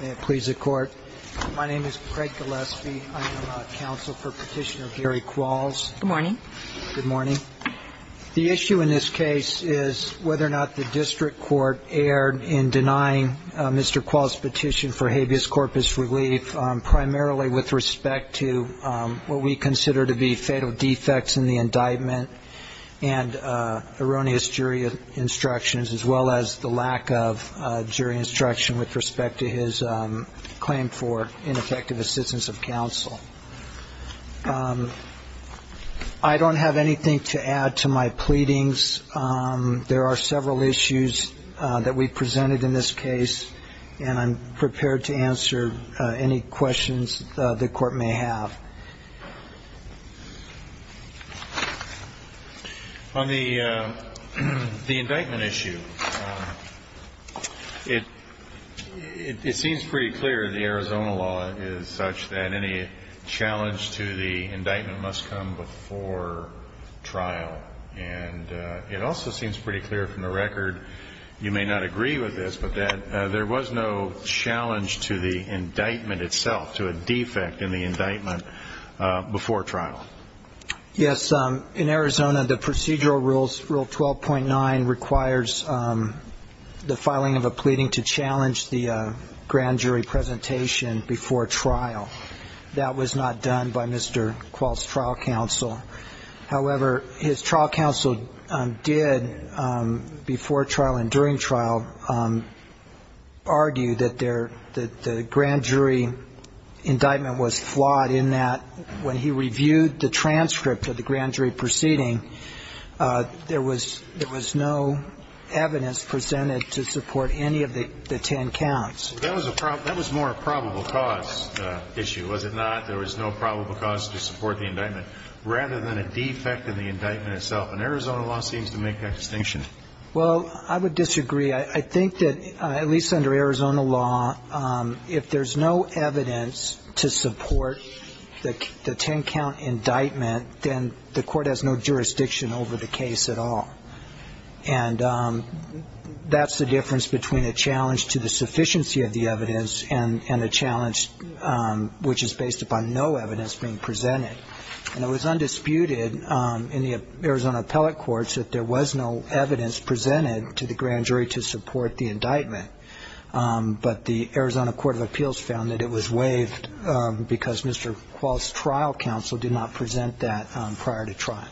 May it please the Court. My name is Craig Gillespie. I am counsel for Petitioner Gary Qualls. Good morning. Good morning. The issue in this case is whether or not the district court erred in denying Mr. Qualls' petition for habeas corpus relief, primarily with respect to what we consider to be fatal defects in the indictment and erroneous jury instructions, as well as the lack of jury instruction with respect to his claim for ineffective assistance of counsel. I don't have anything to add to my pleadings. There are several issues that we've presented in this case, and I'm prepared to answer any questions the Court may have. On the indictment issue, it seems pretty clear the Arizona law is such that any challenge to the indictment must come before trial. And it also seems pretty clear from the record, you may not agree with this, but that there was no challenge to the indictment itself, to a defect in the indictment before trial. Yes. In Arizona, the procedural rules, Rule 12.9, requires the filing of a pleading to challenge the grand jury presentation before trial. That was not done by Mr. Qualls' trial counsel. However, his trial counsel did, before trial and during trial, argue that the grand jury indictment was flawed in that when he reviewed the transcript of the grand jury proceeding, there was no evidence presented to support any of the ten counts. That was more a probable cause issue, was it not? That there was no probable cause to support the indictment, rather than a defect in the indictment itself. And Arizona law seems to make that distinction. Well, I would disagree. I think that, at least under Arizona law, if there's no evidence to support the ten-count indictment, then the Court has no jurisdiction over the case at all. And that's the difference between a challenge to the sufficiency of the evidence and a challenge which is based upon no evidence being presented. And it was undisputed in the Arizona appellate courts that there was no evidence presented to the grand jury to support the indictment. But the Arizona Court of Appeals found that it was waived because Mr. Qualls' trial counsel did not present that prior to trial.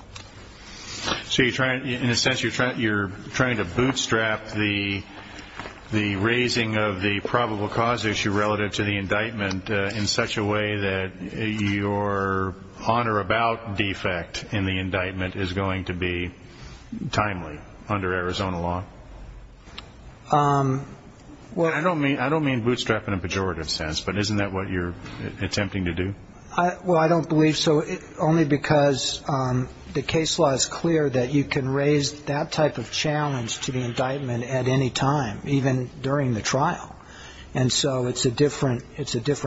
So in a sense, you're trying to bootstrap the raising of the probable cause issue relative to the indictment in such a way that your on or about defect in the indictment is going to be timely under Arizona law? I don't mean bootstrap in a pejorative sense, but isn't that what you're attempting to do? Well, I don't believe so, only because the case law is clear that you can raise that type of challenge to the indictment at any time, even during the trial. And so it's a different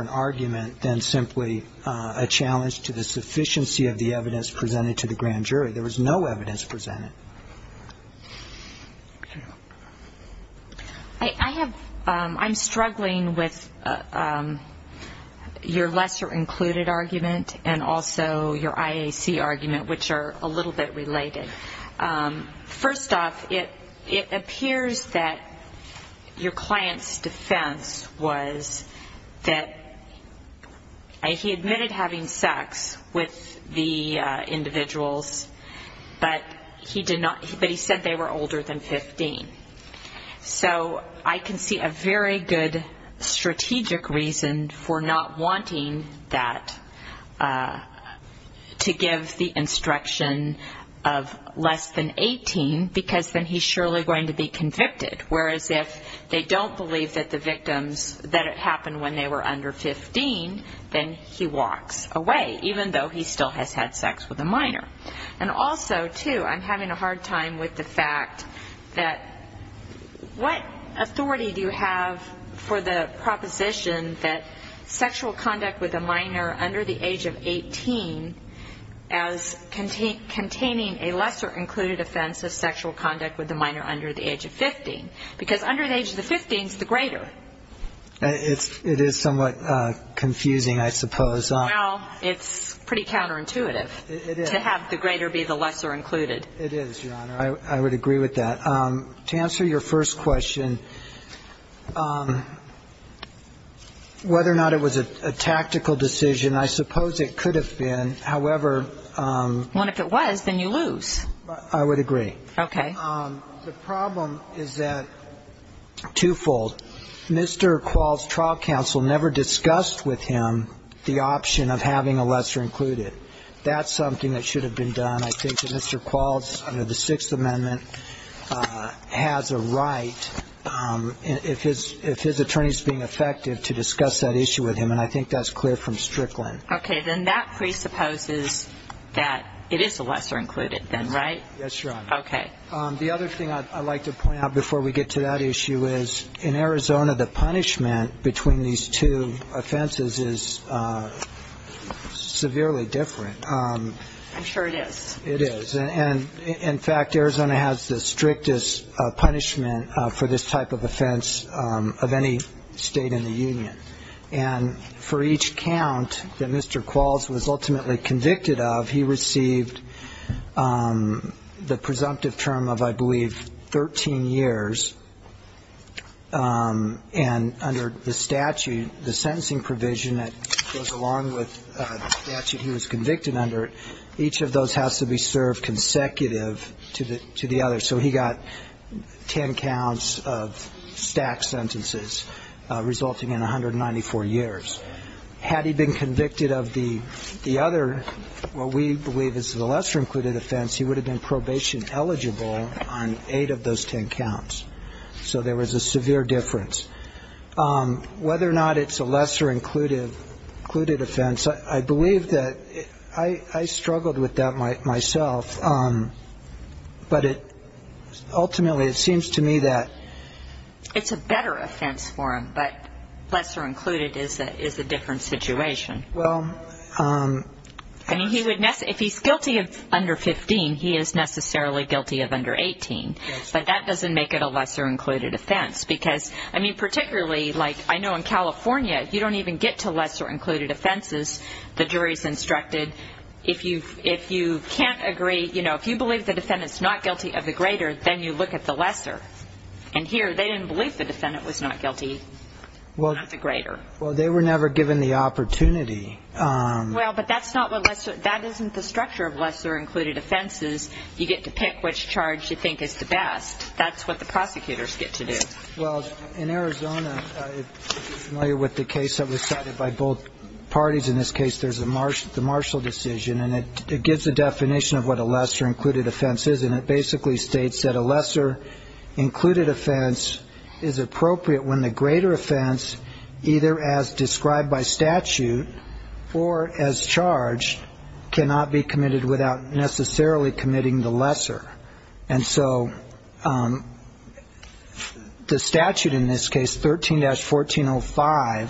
argument than simply a challenge to the sufficiency of the evidence presented to the grand jury. There was no evidence presented. I'm struggling with your lesser included argument and also your IAC argument, which are a little bit related. First off, it appears that your client's defense was that he admitted having sex with the individuals, but he said they were older than 15. So I can see a very good strategic reason for not wanting that, to give the instruction of less than 18, because then he's surely going to be convicted. Whereas if they don't believe that the victims, that it happened when they were under 15, then he walks away, even though he still has had sex with a minor. And also, too, I'm having a hard time with the fact that what authority do you have for the proposition that sexual conduct with a minor under the age of 18 as containing a lesser included offense of sexual conduct with a minor under the age of 15? Because under the age of 15 is the greater. It is somewhat confusing, I suppose. Well, it's pretty counterintuitive to have the greater be the lesser included. It is, Your Honor. I would agree with that. To answer your first question, whether or not it was a tactical decision, I suppose it could have been. However ‑‑ Well, if it was, then you lose. I would agree. Okay. The problem is that twofold. Mr. Qualls' trial counsel never discussed with him the option of having a lesser included. That's something that should have been done. I think that Mr. Qualls, under the Sixth Amendment, has a right, if his attorney is being effective, to discuss that issue with him, and I think that's clear from Strickland. Okay. Then that presupposes that it is a lesser included then, right? Yes, Your Honor. Okay. The other thing I'd like to point out before we get to that issue is, in Arizona, the punishment between these two offenses is severely different. I'm sure it is. It is. And, in fact, Arizona has the strictest punishment for this type of offense of any state in the union. And for each count that Mr. Qualls was ultimately convicted of, he received the presumptive term of, I believe, 13 years. And under the statute, the sentencing provision that goes along with the statute he was convicted under, each of those has to be served consecutive to the other. So he got ten counts of stacked sentences, resulting in 194 years. Had he been convicted of the other, what we believe is the lesser included offense, he would have been probation eligible on eight of those ten counts. So there was a severe difference. Whether or not it's a lesser included offense, I believe that I struggled with that myself, but ultimately it seems to me that... It's a better offense for him, but lesser included is a different situation. Well... I mean, if he's guilty of under 15, he is necessarily guilty of under 18. Yes. But that doesn't make it a lesser included offense. Because, I mean, particularly, like, I know in California, if you don't even get to lesser included offenses, the jury's instructed, if you can't agree, you know, if you believe the defendant's not guilty of the greater, then you look at the lesser. And here, they didn't believe the defendant was not guilty of the greater. Well, they were never given the opportunity. Well, but that's not what lesser... That isn't the structure of lesser included offenses. You get to pick which charge you think is the best. That's what the prosecutors get to do. Well, in Arizona, if you're familiar with the case that was cited by both parties, in this case, there's the Marshall decision, and it gives a definition of what a lesser included offense is, and it basically states that a lesser included offense is appropriate when the greater offense, either as described by statute or as charged, cannot be committed without necessarily committing the lesser. And so the statute in this case, 13-1405,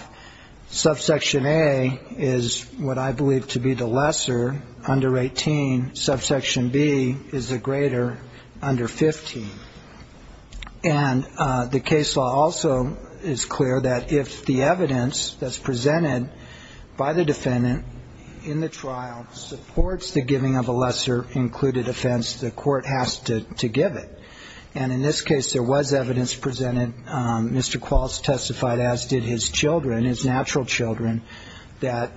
subsection A is what I believe to be the lesser, under 18. Subsection B is the greater, under 15. And the case law also is clear that if the evidence that's presented by the defendant in the trial supports the giving of a lesser included offense, the court has to give it. And in this case, there was evidence presented. Mr. Quals testified, as did his children, his natural children, that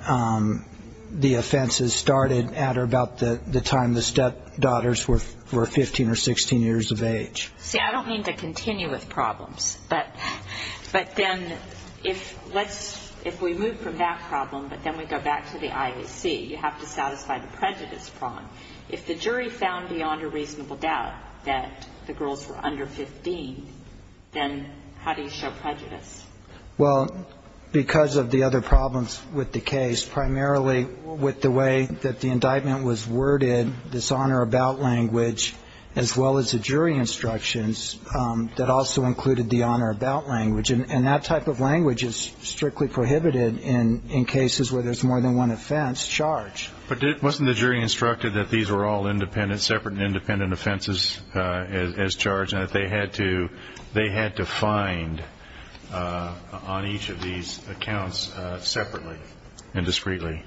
the offenses started at or about the time the stepdaughters were 15 or 16 years of age. See, I don't mean to continue with problems, but then if we move from that problem, but then we go back to the IAC, you have to satisfy the prejudice problem. If the jury found beyond a reasonable doubt that the girls were under 15, then how do you show prejudice? Well, because of the other problems with the case, primarily with the way that the indictment was worded, this honor about language, as well as the jury instructions that also included the honor about language. And that type of language is strictly prohibited in cases where there's more than one offense charged. But wasn't the jury instructed that these were all independent, separate and independent offenses as charged, and that they had to find on each of these accounts separately and discreetly?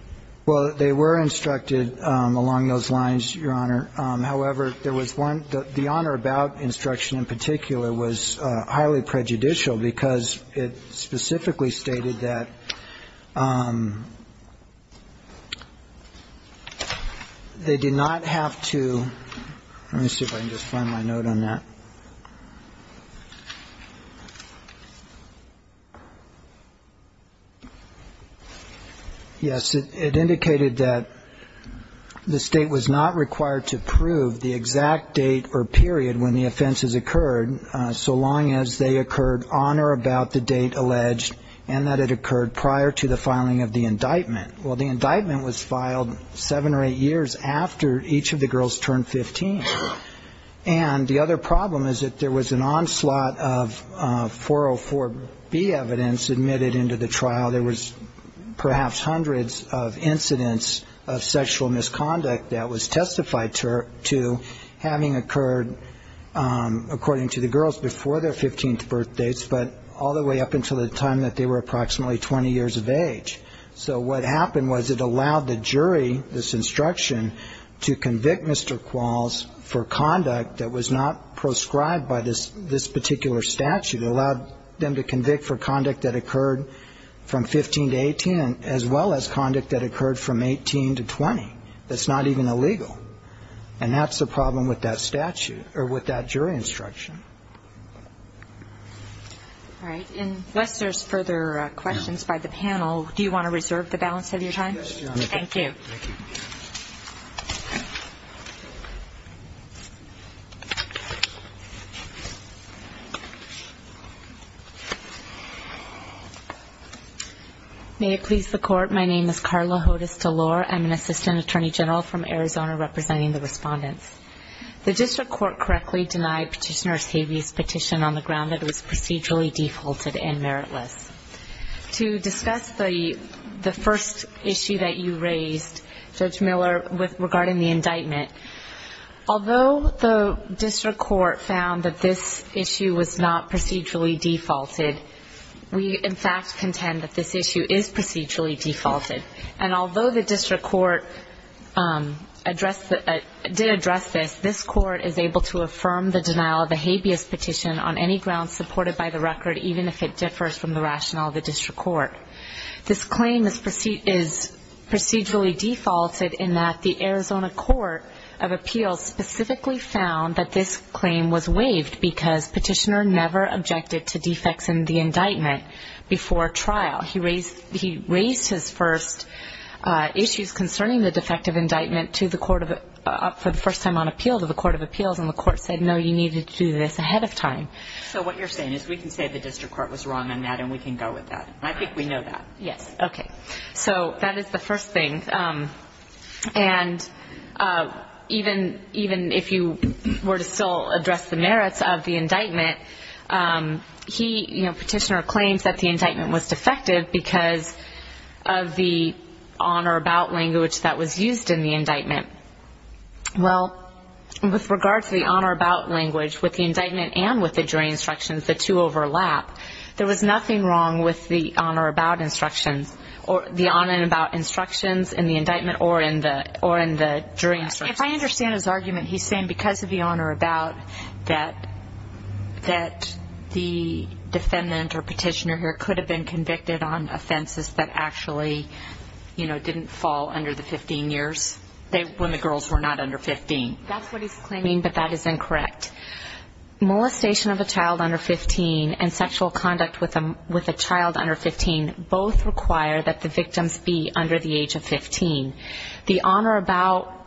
Well, they were instructed along those lines, Your Honor. However, there was one that the honor about instruction in particular was highly prejudicial because it specifically stated that they did not have to ‑‑ let me see if I can just find my note on that. Yes, it indicated that the state was not required to prove the exact date or period when the offenses occurred so long as they occurred on or about the date alleged, and that it occurred prior to the filing of the indictment. Well, the indictment was filed seven or eight years after each of the girls turned 15. And the other problem is that there was an onslaught of 404B evidence admitted into the trial. There was perhaps hundreds of incidents of sexual misconduct that was testified to, having occurred according to the girls before their 15th birthdates, but all the way up until the time that they were approximately 20 years of age. So what happened was it allowed the jury, this instruction, to convict Mr. Qualls for conduct that was not proscribed by this particular statute. It allowed them to convict for conduct that occurred from 15 to 18, as well as conduct that occurred from 18 to 20. That's not even illegal. And that's the problem with that statute, or with that jury instruction. All right. Unless there's further questions by the panel, do you want to reserve the balance of your time? Yes, Your Honor. Thank you. Thank you. May it please the Court, my name is Carla Hodes-Delore. I'm an assistant attorney general from Arizona, representing the respondents. The district court correctly denied Petitioner Seavey's petition on the ground that it was procedurally defaulted and meritless. To discuss the first issue that you raised, Judge Miller, regarding the indictment, although the district court found that this issue was not procedurally defaulted, we, in fact, contend that this issue is procedurally defaulted. And although the district court did address this, this court is able to affirm the denial of a habeas petition on any grounds supported by the record, even if it differs from the rationale of the district court. This claim is procedurally defaulted in that the Arizona Court of Appeals specifically found that this claim was waived because Petitioner never objected to defects in the indictment before trial. He raised his first issues concerning the defective indictment for the first time on appeal to the Court of Appeals, and the court said, no, you need to do this ahead of time. So what you're saying is we can say the district court was wrong on that and we can go with that. I think we know that. Yes. Okay. So that is the first thing. And even if you were to still address the merits of the indictment, Petitioner claims that the indictment was defective because of the on or about language that was used in the indictment. Well, with regard to the on or about language, with the indictment and with the jury instructions, the two overlap. There was nothing wrong with the on or about instructions in the indictment or in the jury instructions. If I understand his argument, he's saying because of the on or about that the defendant or Petitioner here could have been convicted on offenses that actually didn't fall under the 15 years when the girls were not under 15. That's what he's claiming, but that is incorrect. Molestation of a child under 15 and sexual conduct with a child under 15 both require that the victims be under the age of 15. The on or about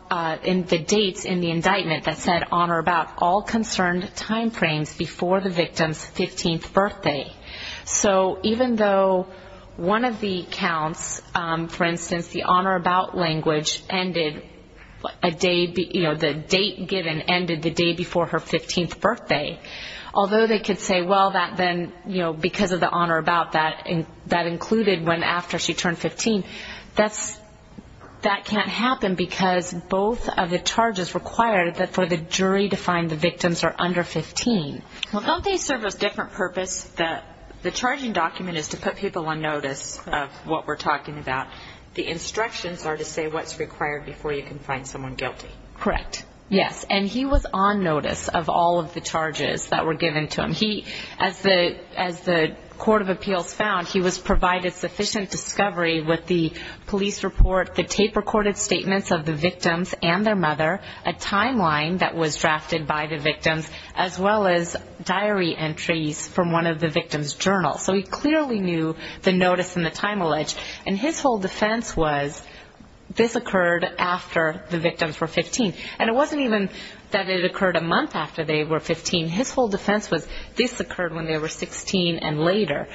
in the dates in the indictment that said on or about all concerned time frames before the victim's 15th birthday. So even though one of the counts, for instance, the on or about language ended a day, you know, the date given ended the day before her 15th birthday, although they could say, well, that then, you know, because of the on or about that included when after she turned 15. That can't happen because both of the charges require that for the jury to find the victims are under 15. Well, don't they serve a different purpose? The charging document is to put people on notice of what we're talking about. The instructions are to say what's required before you can find someone guilty. Correct, yes, and he was on notice of all of the charges that were given to him. And he, as the court of appeals found, he was provided sufficient discovery with the police report, the tape-recorded statements of the victims and their mother, a timeline that was drafted by the victims, as well as diary entries from one of the victims' journals. So he clearly knew the notice and the time allege. And his whole defense was this occurred after the victims were 15. And it wasn't even that it occurred a month after they were 15. His whole defense was this occurred when they were 16 and later.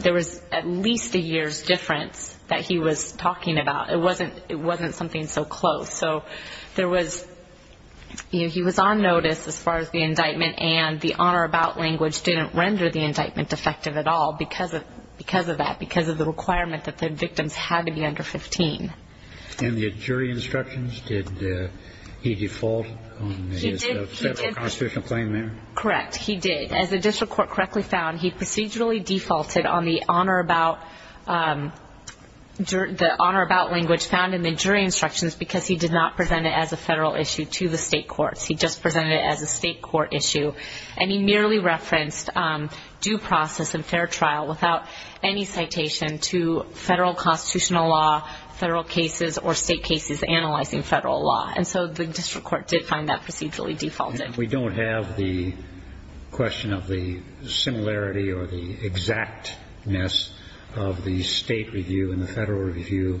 There was at least a year's difference that he was talking about. It wasn't something so close. So there was, you know, he was on notice as far as the indictment, and the on or about language didn't render the indictment effective at all because of that, because of the requirement that the victims had to be under 15. And the jury instructions, did he default on his federal constitutional claim there? Correct. He did. As the district court correctly found, he procedurally defaulted on the on or about language found in the jury instructions because he did not present it as a federal issue to the state courts. He just presented it as a state court issue. And he merely referenced due process and fair trial without any citation to federal constitutional law, federal cases, or state cases analyzing federal law. And so the district court did find that procedurally defaulted. We don't have the question of the similarity or the exactness of the state review and the federal review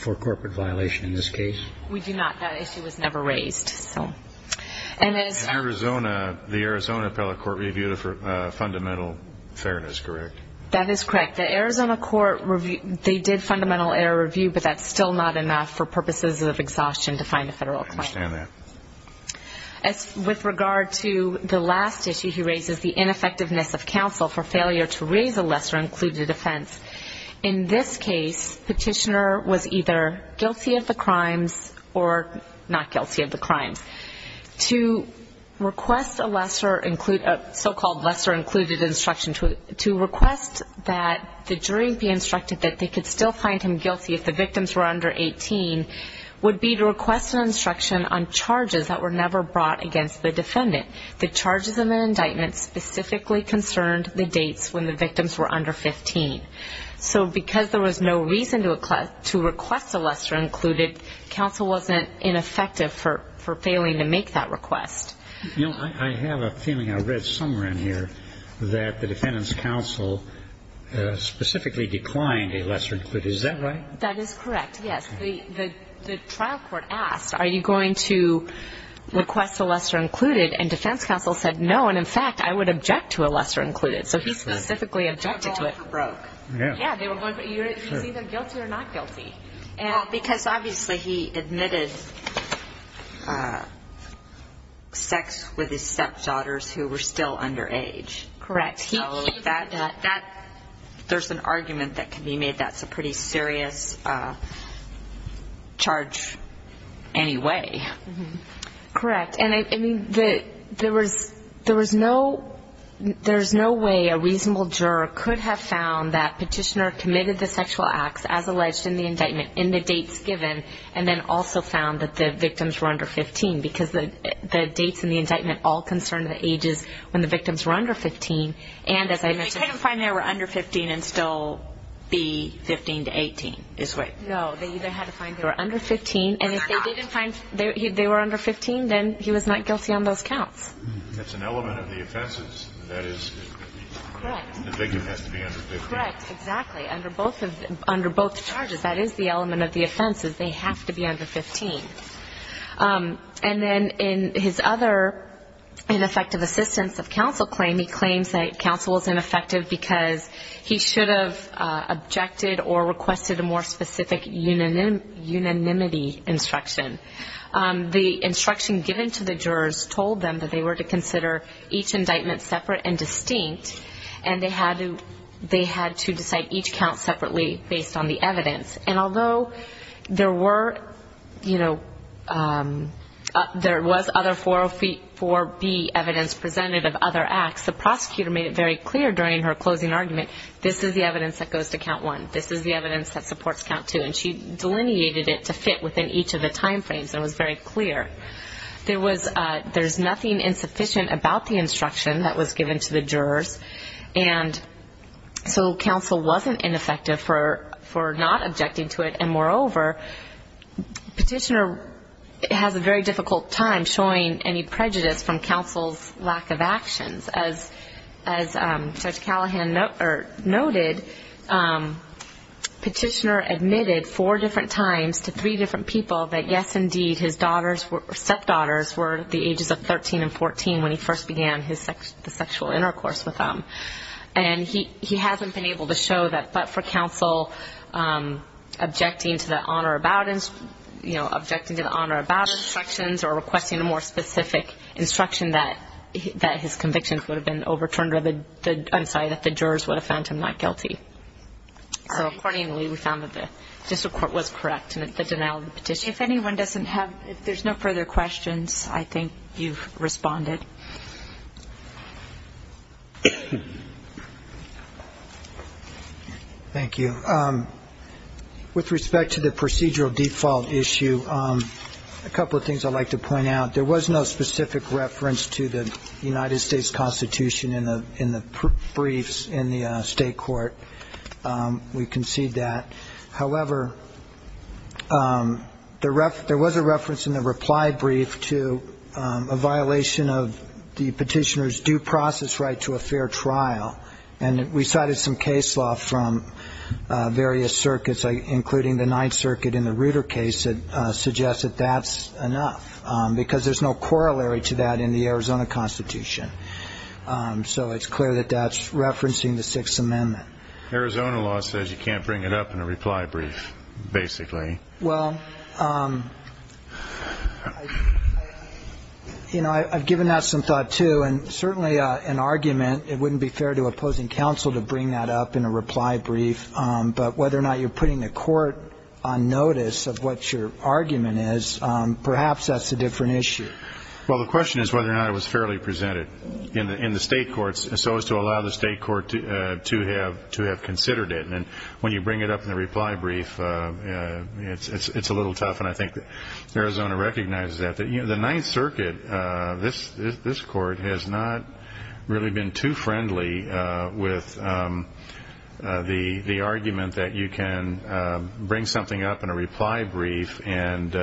for corporate violation in this case? We do not. That issue was never raised. The Arizona appellate court reviewed it for fundamental fairness, correct? That is correct. The Arizona court, they did fundamental error review, but that's still not enough for purposes of exhaustion to find a federal claim. I understand that. As with regard to the last issue, he raises the ineffectiveness of counsel for failure to raise a lesser included offense. In this case, petitioner was either guilty of the crimes or not guilty of the crimes. To request a so-called lesser included instruction, to request that the jury be instructed that they could still find him guilty if the victims were under 18 would be to request an instruction on charges that were never brought against the defendant. The charges in the indictment specifically concerned the dates when the victims were under 15. So because there was no reason to request a lesser included, counsel wasn't ineffective for failing to make that request. I have a feeling, I read somewhere in here, that the defendant's counsel specifically declined a lesser included. Is that right? That is correct, yes. The trial court asked, are you going to request a lesser included? And defense counsel said, no, and in fact, I would object to a lesser included. So he specifically objected to it. Yeah. He's either guilty or not guilty. Because obviously he admitted sex with his stepdaughters who were still under age. Correct. There's an argument that can be made that's a pretty serious charge anyway. Correct. And I mean, there was no way a reasonable juror could have found that petitioner committed the sexual acts, as alleged in the indictment, in the dates given, and then also found that the victims were under 15. Because the dates in the indictment all concerned the ages when the victims were under 15. And as I mentioned ---- They couldn't find they were under 15 and still be 15 to 18 is what ---- No, they either had to find they were under 15. And if they didn't find they were under 15, then he was not guilty on those counts. That's an element of the offenses. That is ---- Correct. The victim has to be under 15. Correct, exactly. Under both charges, that is the element of the offenses. They have to be under 15. And then in his other ineffective assistance of counsel claim, he claims that counsel was ineffective because he should have objected or requested a more specific unanimity instruction. The instruction given to the jurors told them that they were to consider each indictment separate and distinct, and they had to decide each count separately based on the evidence. And although there were, you know, there was other 404B evidence presented of other acts, the prosecutor made it very clear during her closing argument, this is the evidence that goes to count one, this is the evidence that supports count two. And she delineated it to fit within each of the time frames and was very clear. There's nothing insufficient about the instruction that was given to the jurors, and so counsel wasn't ineffective for not objecting to it. And moreover, Petitioner has a very difficult time showing any prejudice from counsel's lack of actions. As Judge Callahan noted, Petitioner admitted four different times to three different people that, yes, indeed, his daughters or stepdaughters were the ages of 13 and 14 when he first began the sexual intercourse with them. And he hasn't been able to show that, but for counsel, objecting to the on or about instructions or requesting a more specific instruction that his convictions would have been overturned, I'm sorry, that the jurors would have found him not guilty. So accordingly, we found that the District Court was correct in the denial of the petition. Judge, if anyone doesn't have, if there's no further questions, I think you've responded. Thank you. With respect to the procedural default issue, a couple of things I'd like to point out. There was no specific reference to the United States Constitution in the briefs in the State Court. We concede that. However, there was a reference in the reply brief to a violation of the Petitioner's due process right to a fair trial, and we cited some case law from various circuits, including the Ninth Circuit in the Reuter case, that suggests that that's enough because there's no corollary to that in the Arizona Constitution. So it's clear that that's referencing the Sixth Amendment. Arizona law says you can't bring it up in a reply brief, basically. Well, you know, I've given that some thought, too, and certainly an argument, it wouldn't be fair to opposing counsel to bring that up in a reply brief, but whether or not you're putting the court on notice of what your argument is, perhaps that's a different issue. Well, the question is whether or not it was fairly presented in the State Courts so as to allow the State Court to have considered it. And when you bring it up in a reply brief, it's a little tough, and I think Arizona recognizes that. The Ninth Circuit, this Court, has not really been too friendly with the argument that you can bring something up in a reply brief and,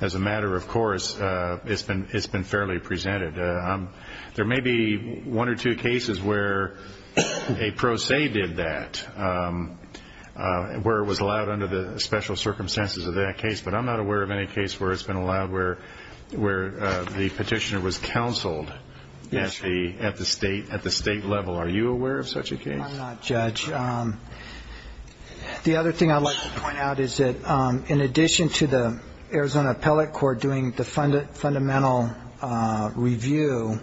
as a matter of course, it's been fairly presented. There may be one or two cases where a pro se did that, where it was allowed under the special circumstances of that case, but I'm not aware of any case where it's been allowed where the petitioner was counseled at the State level. Are you aware of such a case? I'm not, Judge. The other thing I'd like to point out is that, in addition to the Arizona Appellate Court doing the fundamental review,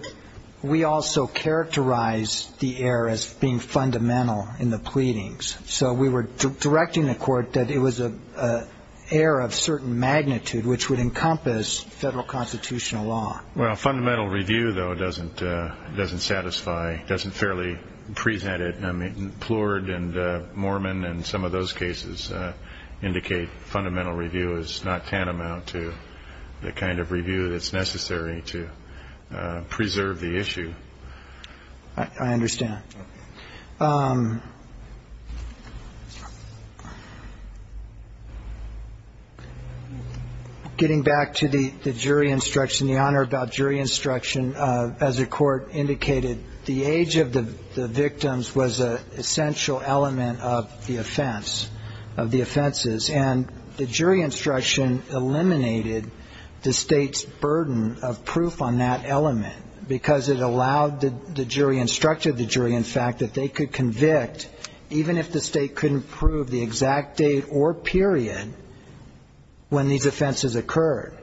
we also characterized the error as being fundamental in the pleadings. So we were directing the Court that it was an error of certain magnitude which would encompass federal constitutional law. Well, fundamental review, though, doesn't satisfy, doesn't fairly present it. I mean, Plourd and Moorman and some of those cases indicate fundamental review is not tantamount to the kind of review that's necessary to preserve the issue. I understand. Getting back to the jury instruction, the honor about jury instruction, as the Court indicated, the age of the victims was an essential element of the offense, of the offenses. And the jury instruction eliminated the State's burden of proof on that element because it allowed the jury, instructed the jury, in fact, that they could convict, even if the State couldn't prove the exact date or period when these offenses occurred.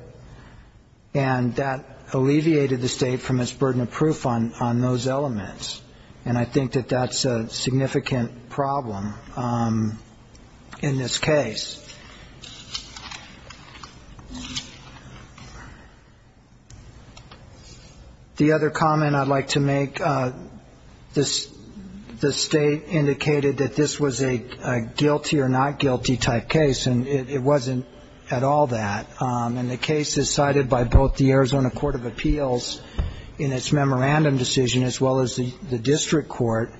And that alleviated the State from its burden of proof on those elements. And I think that that's a significant problem in this case. The other comment I'd like to make, the State indicated that this was a guilty or not guilty type case, and it wasn't at all that. And the cases cited by both the Arizona Court of Appeals in its memorandum decision, as well as the district court,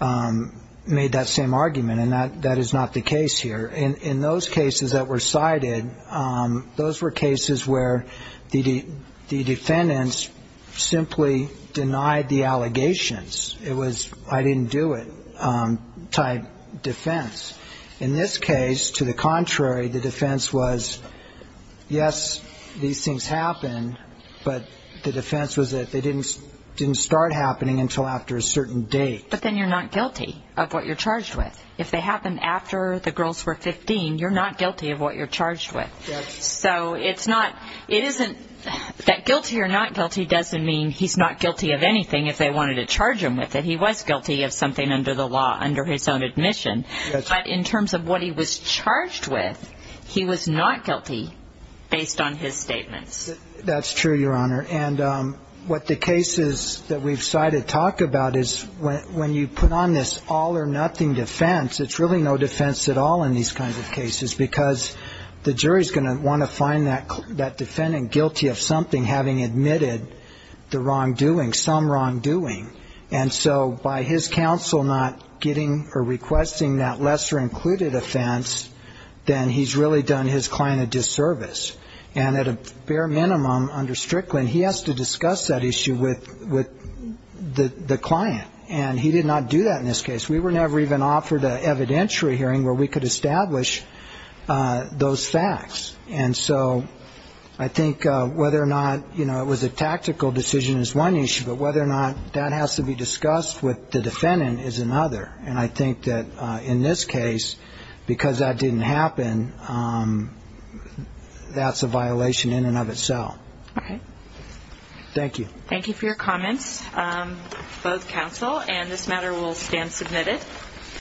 made that same argument. And that is not the case here. In those cases that were cited, those were cases where the defendants simply denied the allegations. It was I didn't do it type defense. In this case, to the contrary, the defense was, yes, these things happened, but the defense was that they didn't start happening until after a certain date. But then you're not guilty of what you're charged with. If they happened after the girls were 15, you're not guilty of what you're charged with. So it's not, it isn't, that guilty or not guilty doesn't mean he's not guilty of anything if they wanted to charge him with it. He was guilty of something under the law, under his own admission. But in terms of what he was charged with, he was not guilty based on his statements. That's true, Your Honor. And what the cases that we've cited talk about is when you put on this all or nothing defense, it's really no defense at all in these kinds of cases because the jury's going to want to find that defendant guilty of something, having admitted the wrongdoing, some wrongdoing. And so by his counsel not getting or requesting that lesser included offense, then he's really done his client a disservice. And at a bare minimum under Strickland, he has to discuss that issue with the client. And he did not do that in this case. We were never even offered an evidentiary hearing where we could establish those facts. And so I think whether or not, you know, it was a tactical decision is one issue, but whether or not that has to be discussed with the defendant is another. And I think that in this case, because that didn't happen, that's a violation in and of itself. Okay. Thank you. Thank you for your comments, both counsel. And this matter will stand submitted.